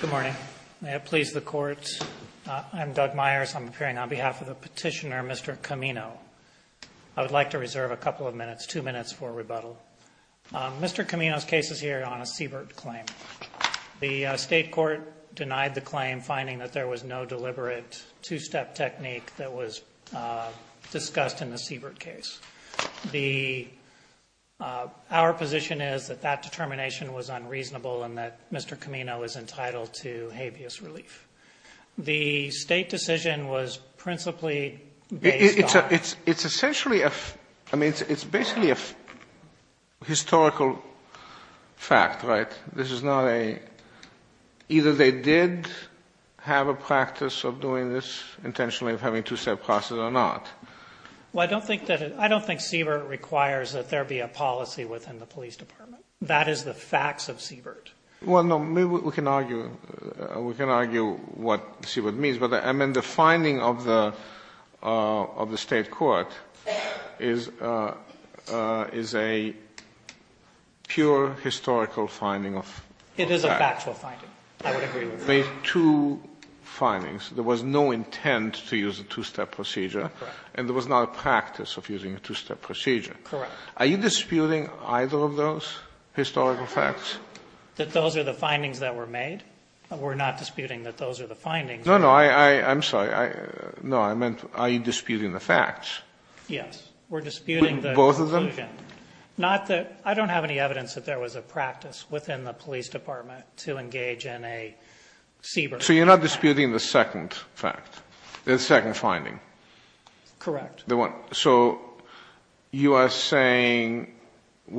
Good morning. May it please the Court, I'm Doug Myers. I'm appearing on behalf of the petitioner, Mr. Camino. I would like to reserve a couple of minutes, two minutes for rebuttal. Mr. Camino's case is here on a Siebert claim. The state court denied the claim, finding that there was no deliberate two-step technique that was discussed in the Siebert case. The — our position is that that determination was unreasonable and that Mr. Camino is entitled to habeas relief. The state decision was principally based on — It's essentially a — I mean, it's basically a historical fact, right? This is not a — either they did have a practice of doing this intentionally of having two-step process or not. Well, I don't think that it — I don't think Siebert requires that there be a policy within the police department. That is the facts of Siebert. Well, no, maybe we can argue — we can argue what Siebert means. But I mean, the finding of the state court is a pure historical finding of facts. It is a factual finding. I would agree with that. Sotomayor, you made two findings. There was no intent to use a two-step procedure. Correct. And there was not a practice of using a two-step procedure. Correct. Are you disputing either of those historical facts? That those are the findings that were made? We're not disputing that those are the findings. No, no. I'm sorry. Yes. We're disputing the conclusion. Both of them? Not that — I don't have any evidence that there was a practice within the police department to engage in a Siebert practice. So you're not disputing the second fact, the second finding? Correct. The one — so you are saying,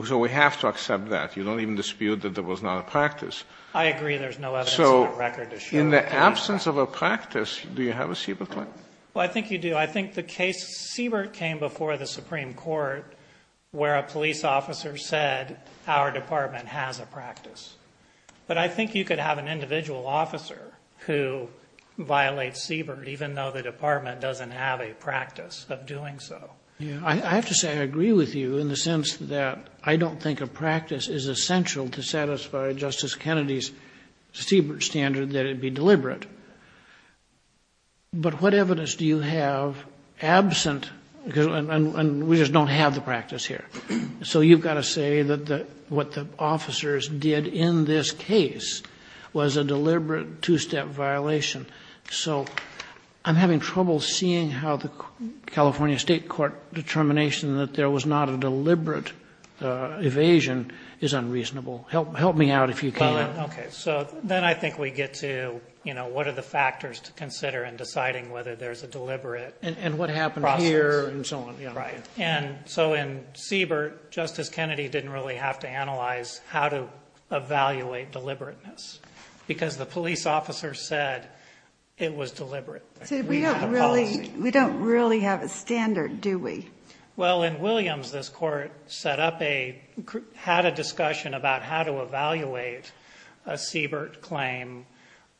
so we have to accept that. You don't even dispute that there was not a practice. I agree there's no evidence in that record to show that there was not. So in the absence of a practice, do you have a Siebert claim? Well, I think you do. So I think the case Siebert came before the Supreme Court where a police officer said our department has a practice. But I think you could have an individual officer who violates Siebert even though the department doesn't have a practice of doing so. I have to say I agree with you in the sense that I don't think a practice is essential to satisfy Justice Kennedy's Siebert standard that it be deliberate. But what evidence do you have absent — and we just don't have the practice here. So you've got to say that what the officers did in this case was a deliberate two-step violation. So I'm having trouble seeing how the California State Court determination that there was not a deliberate evasion is unreasonable. Help me out if you can. Okay, so then I think we get to, you know, what are the factors to consider in deciding whether there's a deliberate process. And what happened here and so on. Right. And so in Siebert, Justice Kennedy didn't really have to analyze how to evaluate deliberateness because the police officer said it was deliberate. We don't really have a standard, do we? Well, in Williams, this court set up a — had a discussion about how to evaluate a Siebert claim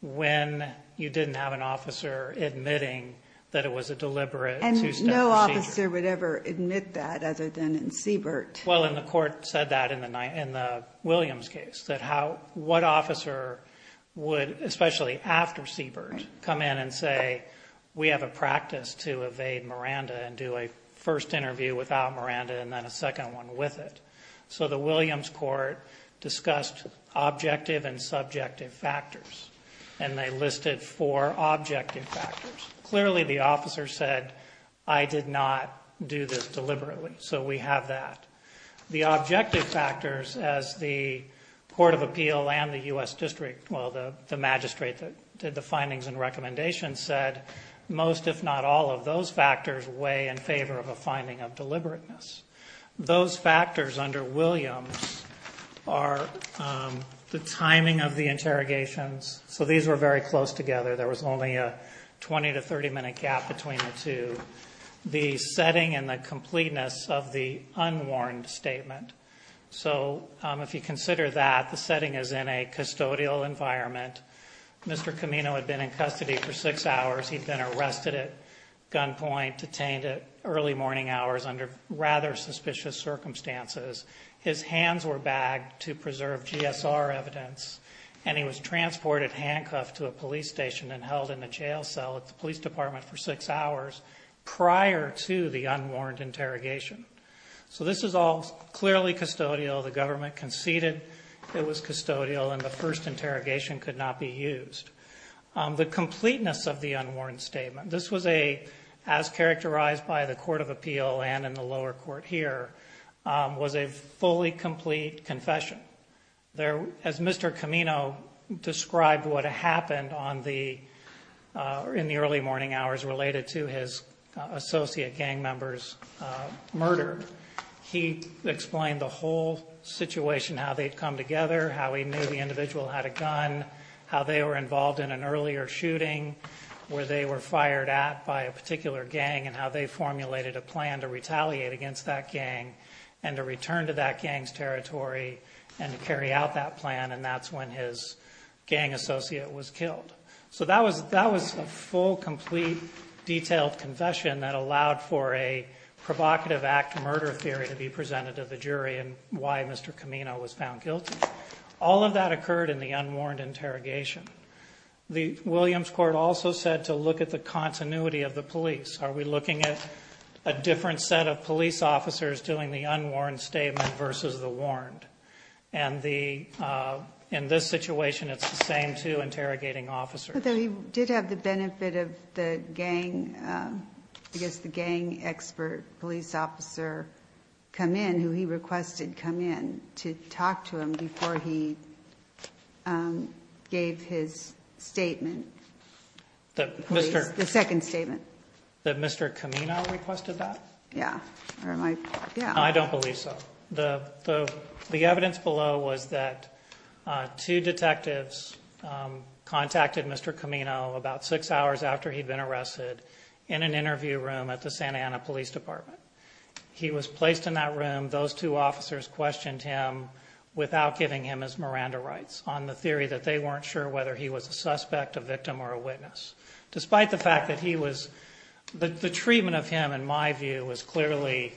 when you didn't have an officer admitting that it was a deliberate two-step procedure. And no officer would ever admit that other than in Siebert. Well, and the court said that in the Williams case, that how — what officer would, especially after Siebert, come in and say, we have a practice to evade Miranda and do a first interview without Miranda and then a second one with it. So the Williams court discussed objective and subjective factors, and they listed four objective factors. Clearly, the officer said, I did not do this deliberately. So we have that. The objective factors, as the Court of Appeal and the U.S. District — well, the magistrate that did the findings and recommendations said, most, if not all, of those factors weigh in favor of a finding of deliberateness. Those factors under Williams are the timing of the interrogations. So these were very close together. There was only a 20- to 30-minute gap between the two. The setting and the completeness of the unwarned statement. So if you consider that, the setting is in a custodial environment. Mr. Camino had been in custody for six hours. He'd been arrested at gunpoint, detained at early morning hours under rather suspicious circumstances. His hands were bagged to preserve GSR evidence, and he was transported handcuffed to a police station and held in a jail cell at the police department for six hours prior to the unwarned interrogation. So this is all clearly custodial. The government conceded it was custodial, and the first interrogation could not be used. The completeness of the unwarned statement. This was a, as characterized by the Court of Appeal and in the lower court here, was a fully complete confession. As Mr. Camino described what happened in the early morning hours related to his associate gang member's murder, he explained the whole situation, how they'd come together, how he knew the individual had a gun, how they were involved in an earlier shooting, where they were fired at by a particular gang, and how they formulated a plan to retaliate against that gang and to return to that gang's territory and to carry out that plan, and that's when his gang associate was killed. So that was a full, complete, detailed confession that allowed for a provocative act murder theory to be presented to the jury and why Mr. Camino was found guilty. All of that occurred in the unwarned interrogation. The Williams Court also said to look at the continuity of the police. Are we looking at a different set of police officers doing the unwarned statement versus the warned? And in this situation, it's the same two interrogating officers. I know that he did have the benefit of the gang expert police officer come in, who he requested come in to talk to him before he gave his statement. The second statement. That Mr. Camino requested that? Yeah. I don't believe so. The evidence below was that two detectives contacted Mr. Camino about six hours after he'd been arrested in an interview room at the Santa Ana Police Department. He was placed in that room. Those two officers questioned him without giving him his Miranda rights on the theory that they weren't sure whether he was a suspect, a victim, or a witness. Despite the fact that the treatment of him, in my view, was clearly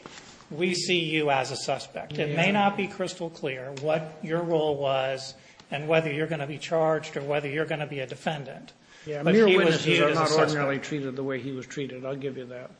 we see you as a suspect. It may not be crystal clear what your role was and whether you're going to be charged or whether you're going to be a defendant. Mere witnesses are not ordinarily treated the way he was treated. I'll give you that.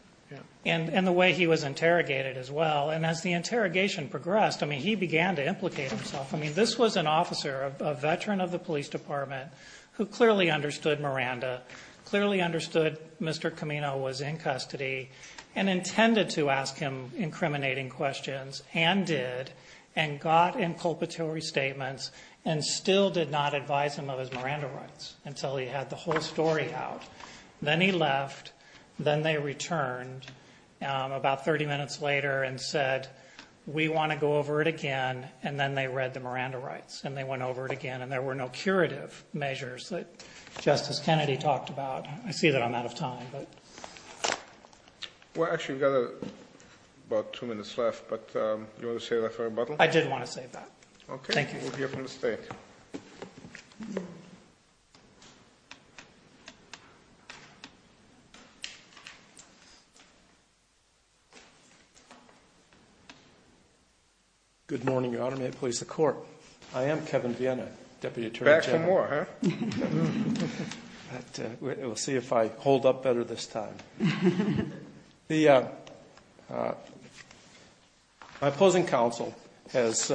And the way he was interrogated as well. And as the interrogation progressed, he began to implicate himself. I mean, this was an officer, a veteran of the police department, who clearly understood Miranda, clearly understood Mr. Camino was in custody, and intended to ask him incriminating questions, and did, and got inculpatory statements, and still did not advise him of his Miranda rights until he had the whole story out. Then he left. Then they returned about 30 minutes later and said, We want to go over it again. And then they read the Miranda rights, and they went over it again, and there were no curative measures that Justice Kennedy talked about. I see that I'm out of time. Well, actually, we've got about two minutes left, but do you want to save that for rebuttal? Okay. Thank you. We'll hear from the State. Good morning, Your Honor. May it please the Court. I am Kevin Vienna, Deputy Attorney General. Back some more, huh? We'll see if I hold up better this time. The opposing counsel has,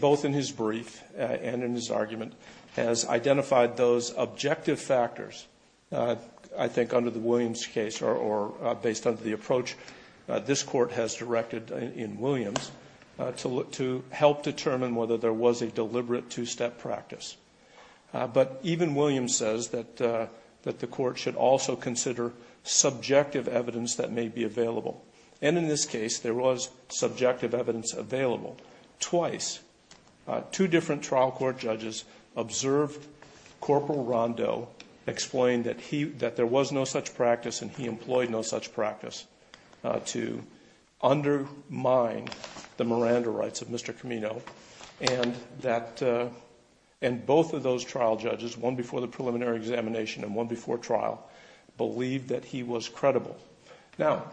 both in his brief and in his argument, has identified those objective factors, I think under the Williams case, or based on the approach this Court has directed in Williams, to help determine whether there was a deliberate two-step practice. But even Williams says that the Court should also consider subjective evidence that may be available. And in this case, there was subjective evidence available. Twice, two different trial court judges observed Corporal Rondeau explain that there was no such practice and he employed no such practice to undermine the Miranda rights of Mr. Camino, and both of those trial judges, one before the preliminary examination and one before trial, believed that he was credible. Now,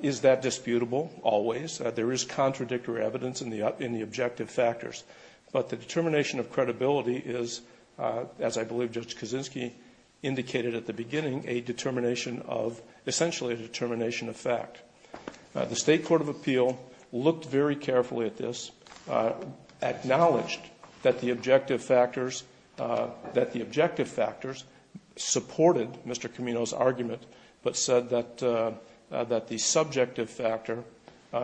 is that disputable? Always. There is contradictory evidence in the objective factors. But the determination of credibility is, as I believe Judge Kaczynski indicated at the beginning, a determination of, essentially a determination of fact. The State Court of Appeal looked very carefully at this and acknowledged that the objective factors, that the objective factors supported Mr. Camino's argument, but said that the subjective factor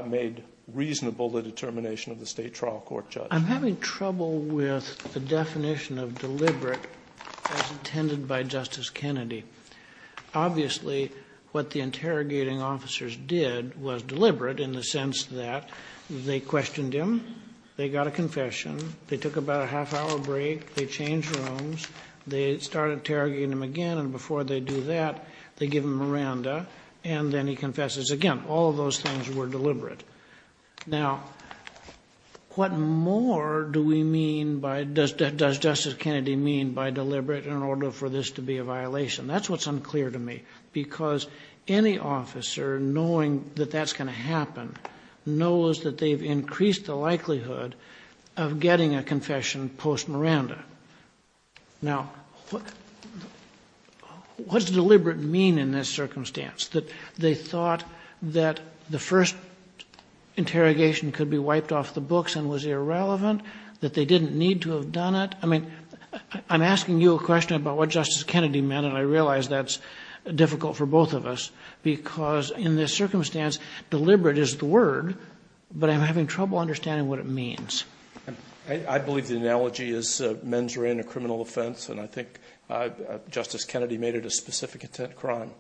made reasonable the determination of the State trial court judge. I'm having trouble with the definition of deliberate as intended by Justice Kennedy. Obviously, what the interrogating officers did was deliberate in the sense that they questioned him, they got a confession, they took about a half-hour break, they changed rooms, they started interrogating him again, and before they do that, they give him Miranda, and then he confesses. Again, all of those things were deliberate. Now, what more do we mean by, does Justice Kennedy mean by deliberate in order for this to be a violation? That's what's unclear to me, because any officer, knowing that that's going to happen, knows that they've increased the likelihood of getting a confession post-Miranda. Now, what does deliberate mean in this circumstance? That they thought that the first interrogation could be wiped off the books and was irrelevant? That they didn't need to have done it? I mean, I'm asking you a question about what Justice Kennedy meant, and I realize that's difficult for both of us, because in this circumstance, deliberate is the word, but I'm having trouble understanding what it means. I believe the analogy is mens rea in a criminal offense, and I think Justice Kennedy made it a specific intent crime.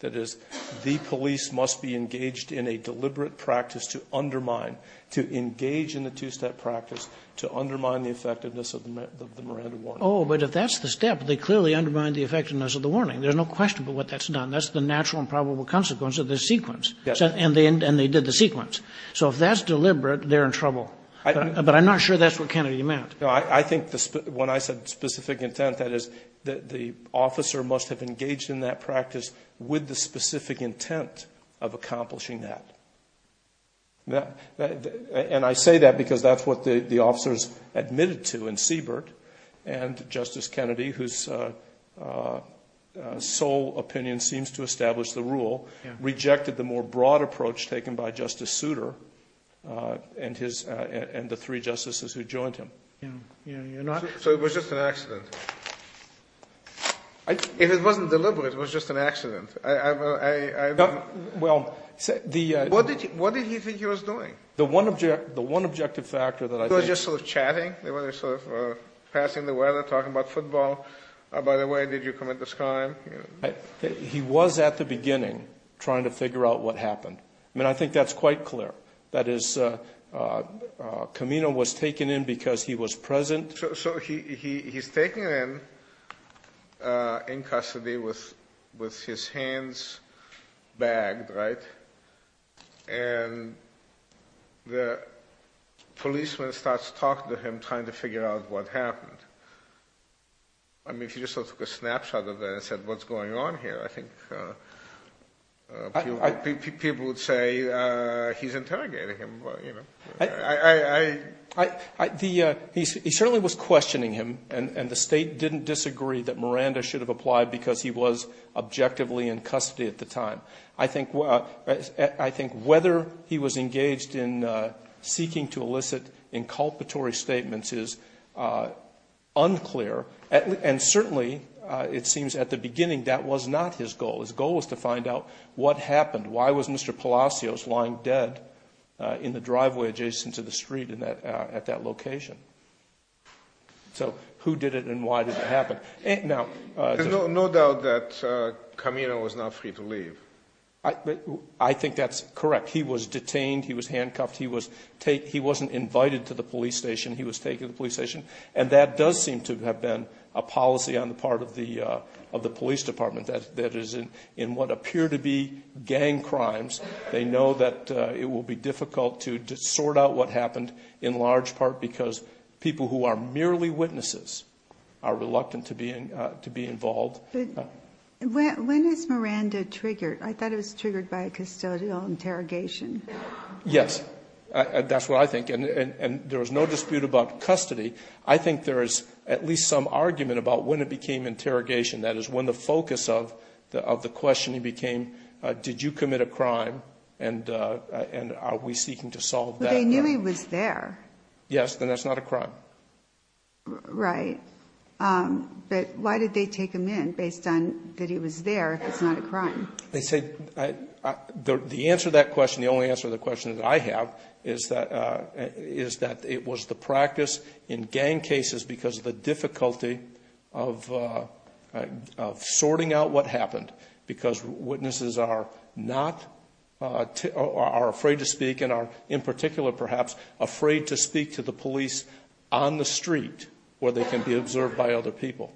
That is, the police must be engaged in a deliberate practice to undermine, to engage in the two-step practice to undermine the effectiveness of the Miranda warning. Oh, but if that's the step, they clearly undermine the effectiveness of the warning. There's no question about what that's done. That's the natural and probable consequence of the sequence. And they did the sequence. So if that's deliberate, they're in trouble. But I'm not sure that's what Kennedy meant. No, I think when I said specific intent, that is, the officer must have engaged in that practice with the specific intent of accomplishing that. And I say that because that's what the officers admitted to in Siebert, and Justice Kennedy, whose sole opinion seems to establish the rule, rejected the more broad approach taken by Justice Souter and the three justices who joined him. So it was just an accident. If it wasn't deliberate, it was just an accident. What did he think he was doing? The one objective factor that I think. He was just sort of chatting. They were sort of passing the weather, talking about football. By the way, did you commit this crime? He was at the beginning trying to figure out what happened. I mean, I think that's quite clear. That is, Camino was taken in because he was present. So he's taken in, in custody with his hands bagged, right? And the policeman starts talking to him, trying to figure out what happened. I mean, if you just took a snapshot of that and said what's going on here, I think people would say he's interrogating him. He certainly was questioning him, and the State didn't disagree that Miranda should have applied because he was objectively in custody at the time. I think whether he was engaged in seeking to elicit inculpatory statements is unclear, and certainly it seems at the beginning that was not his goal. His goal was to find out what happened. Why was Mr. Palacios lying dead in the driveway adjacent to the street at that location? So who did it and why did it happen? There's no doubt that Camino was not free to leave. I think that's correct. He was detained. He was handcuffed. He wasn't invited to the police station. He was taken to the police station. And that does seem to have been a policy on the part of the police department that is in what appear to be gang crimes. They know that it will be difficult to sort out what happened in large part because people who are merely witnesses are reluctant to be involved. When is Miranda triggered? I thought it was triggered by a custodial interrogation. Yes, that's what I think. And there was no dispute about custody. I think there is at least some argument about when it became interrogation, that is when the focus of the questioning became did you commit a crime and are we seeking to solve that? But they knew he was there. Yes, then that's not a crime. Right. But why did they take him in based on that he was there if it's not a crime? They said the answer to that question, the only answer to the question that I have, is that it was the practice in gang cases because of the difficulty of sorting out what happened because witnesses are afraid to speak and are in particular perhaps afraid to speak to the police on the street where they can be observed by other people.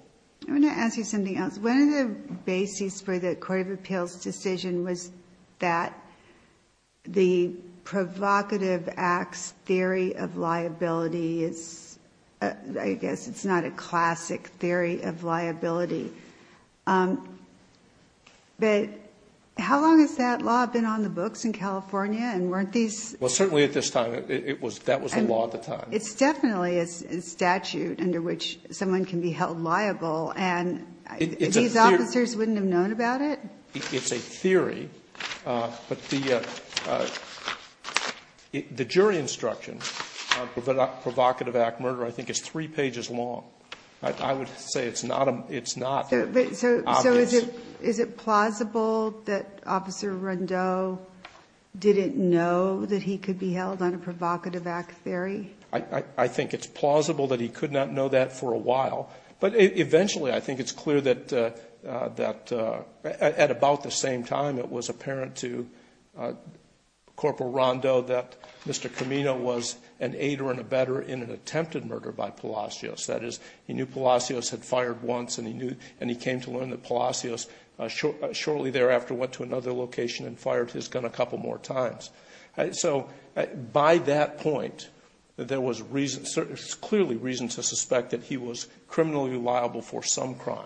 I want to ask you something else. One of the bases for the court of appeals decision was that the provocative acts theory of liability is, I guess it's not a classic theory of liability. But how long has that law been on the books in California and weren't these? Well, certainly at this time that was the law at the time. It's definitely a statute under which someone can be held liable. And these officers wouldn't have known about it? It's a theory. But the jury instruction on provocative act murder I think is three pages long. I would say it's not obvious. So is it plausible that Officer Rondeau didn't know that he could be held on a provocative act theory? I think it's plausible that he could not know that for a while. But eventually I think it's clear that at about the same time it was apparent to Corporal Rondeau that Mr. Camino was an aider and a better in an attempted murder by Palacios. That is, he knew Palacios had fired once, and he came to learn that Palacios shortly thereafter went to another location and fired his gun a couple more times. So by that point there was clearly reason to suspect that he was criminally liable for some crime.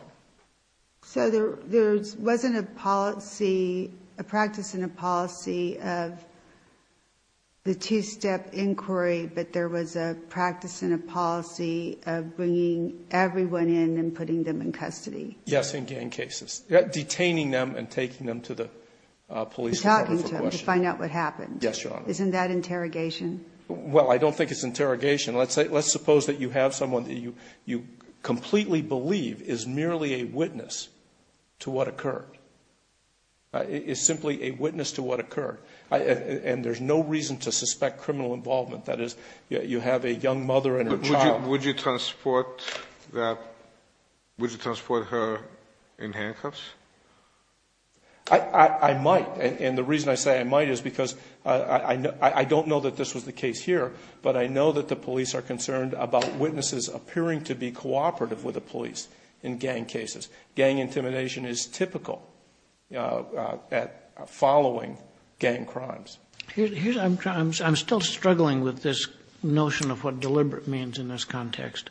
So there wasn't a policy, a practice and a policy of the two-step inquiry, but there was a practice and a policy of bringing everyone in and putting them in custody? Yes, in gang cases. Detaining them and taking them to the police department for questioning. To find out what happened. Yes, Your Honor. Isn't that interrogation? Well, I don't think it's interrogation. Let's suppose that you have someone that you completely believe is merely a witness to what occurred. It's simply a witness to what occurred. And there's no reason to suspect criminal involvement. That is, you have a young mother and her child. Would you transport her in handcuffs? I might. And the reason I say I might is because I don't know that this was the case here, but I know that the police are concerned about witnesses appearing to be cooperative with the police in gang cases. Gang intimidation is typical following gang crimes. I'm still struggling with this notion of what deliberate means in this context.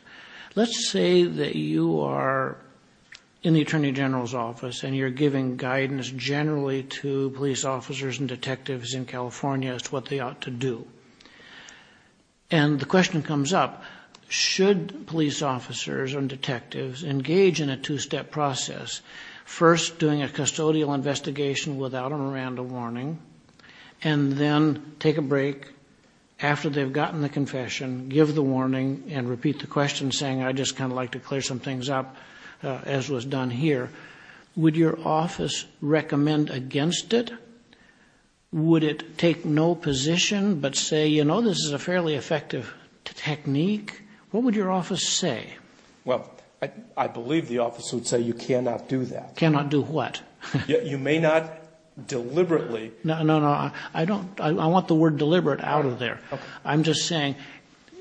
Let's say that you are in the Attorney General's office and you're giving guidance generally to police officers and detectives in California as to what they ought to do. And the question comes up, should police officers and detectives engage in a two-step process, first doing a custodial investigation without a Miranda warning, and then take a break after they've gotten the confession, give the warning, and repeat the question saying, I'd just kind of like to clear some things up, as was done here. Would your office recommend against it? Would it take no position but say, you know, this is a fairly effective technique? What would your office say? Well, I believe the office would say you cannot do that. Cannot do what? You may not deliberately. No, no, no. I don't. I want the word deliberate out of there. I'm just saying,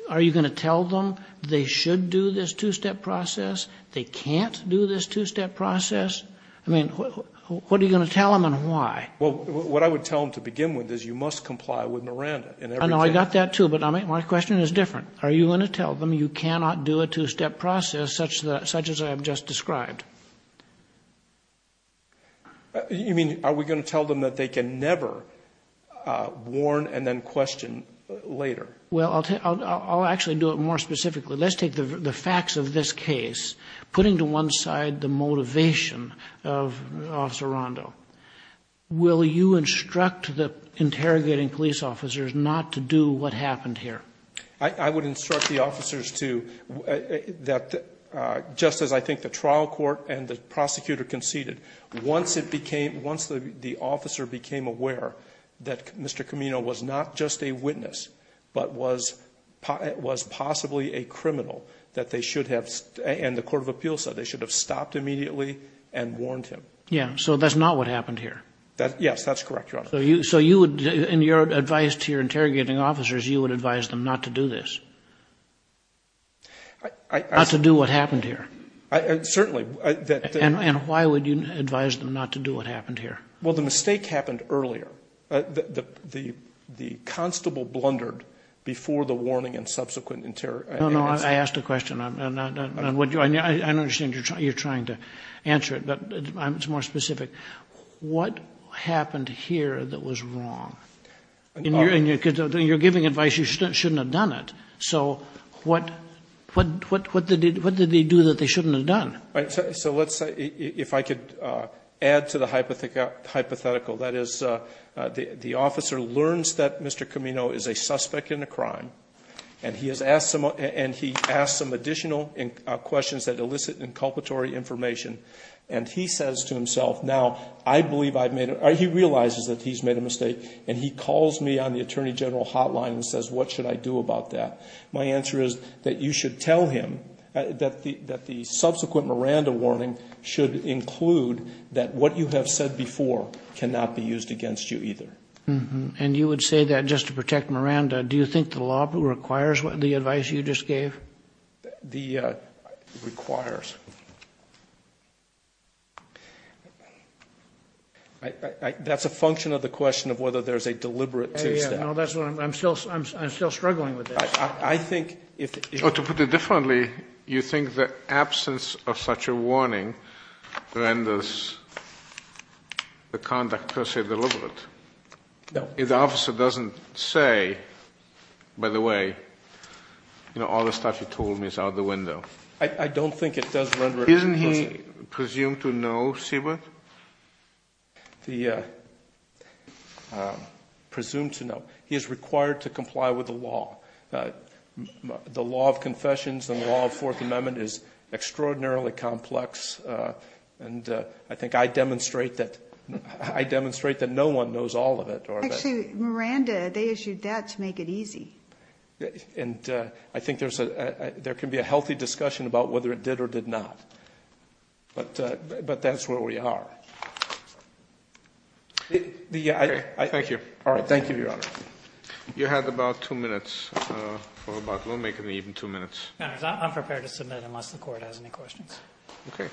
are you going to tell them they should do this two-step process? They can't do this two-step process? I mean, what are you going to tell them and why? Well, what I would tell them to begin with is you must comply with Miranda. I know. I got that, too. But my question is different. Are you going to tell them you cannot do a two-step process such as I have just described? You mean, are we going to tell them that they can never warn and then question later? Well, I'll actually do it more specifically. Let's take the facts of this case. Putting to one side the motivation of Officer Rondo, will you instruct the interrogating police officers not to do what happened here? I would instruct the officers to, just as I think the trial court and the prosecutor conceded, once the officer became aware that Mr. Camino was not just a witness but was possibly a criminal, that they should have, and the court of appeals said they should have stopped immediately and warned him. Yeah, so that's not what happened here. Yes, that's correct, Your Honor. So you would, in your advice to your interrogating officers, you would advise them not to do this? Not to do what happened here? Certainly. And why would you advise them not to do what happened here? Well, the mistake happened earlier. The constable blundered before the warning and subsequent interrogation. No, no, I asked a question. I understand you're trying to answer it, but it's more specific. What happened here that was wrong? And you're giving advice you shouldn't have done it. So what did they do that they shouldn't have done? So let's say, if I could add to the hypothetical, that is the officer learns that Mr. Camino is a suspect in a crime, and he has asked some additional questions that elicit inculpatory information, and he says to himself, now, I believe I've made a, he realizes that he's made a mistake, and he calls me on the Attorney General hotline and says, what should I do about that? My answer is that you should tell him that the subsequent Miranda warning should include that what you have said before cannot be used against you either. And you would say that just to protect Miranda. Do you think the law requires the advice you just gave? It requires. That's a function of the question of whether there's a deliberate two-step. I'm still struggling with this. To put it differently, you think the absence of such a warning renders the conduct, per se, deliberate? No. If the officer doesn't say, by the way, you know, all the stuff you told me is out the window. I don't think it does render it deliberate. Isn't he presumed to know, Siebert? Presumed to know. He is required to comply with the law. The law of confessions and the law of Fourth Amendment is extraordinarily complex, and I think I demonstrate that no one knows all of it. Actually, Miranda, they issued that to make it easy. And I think there can be a healthy discussion about whether it did or did not. But that's where we are. Thank you. All right. Thank you, Your Honor. You have about two minutes. We'll make it even two minutes. I'm prepared to submit unless the Court has any questions. Okay.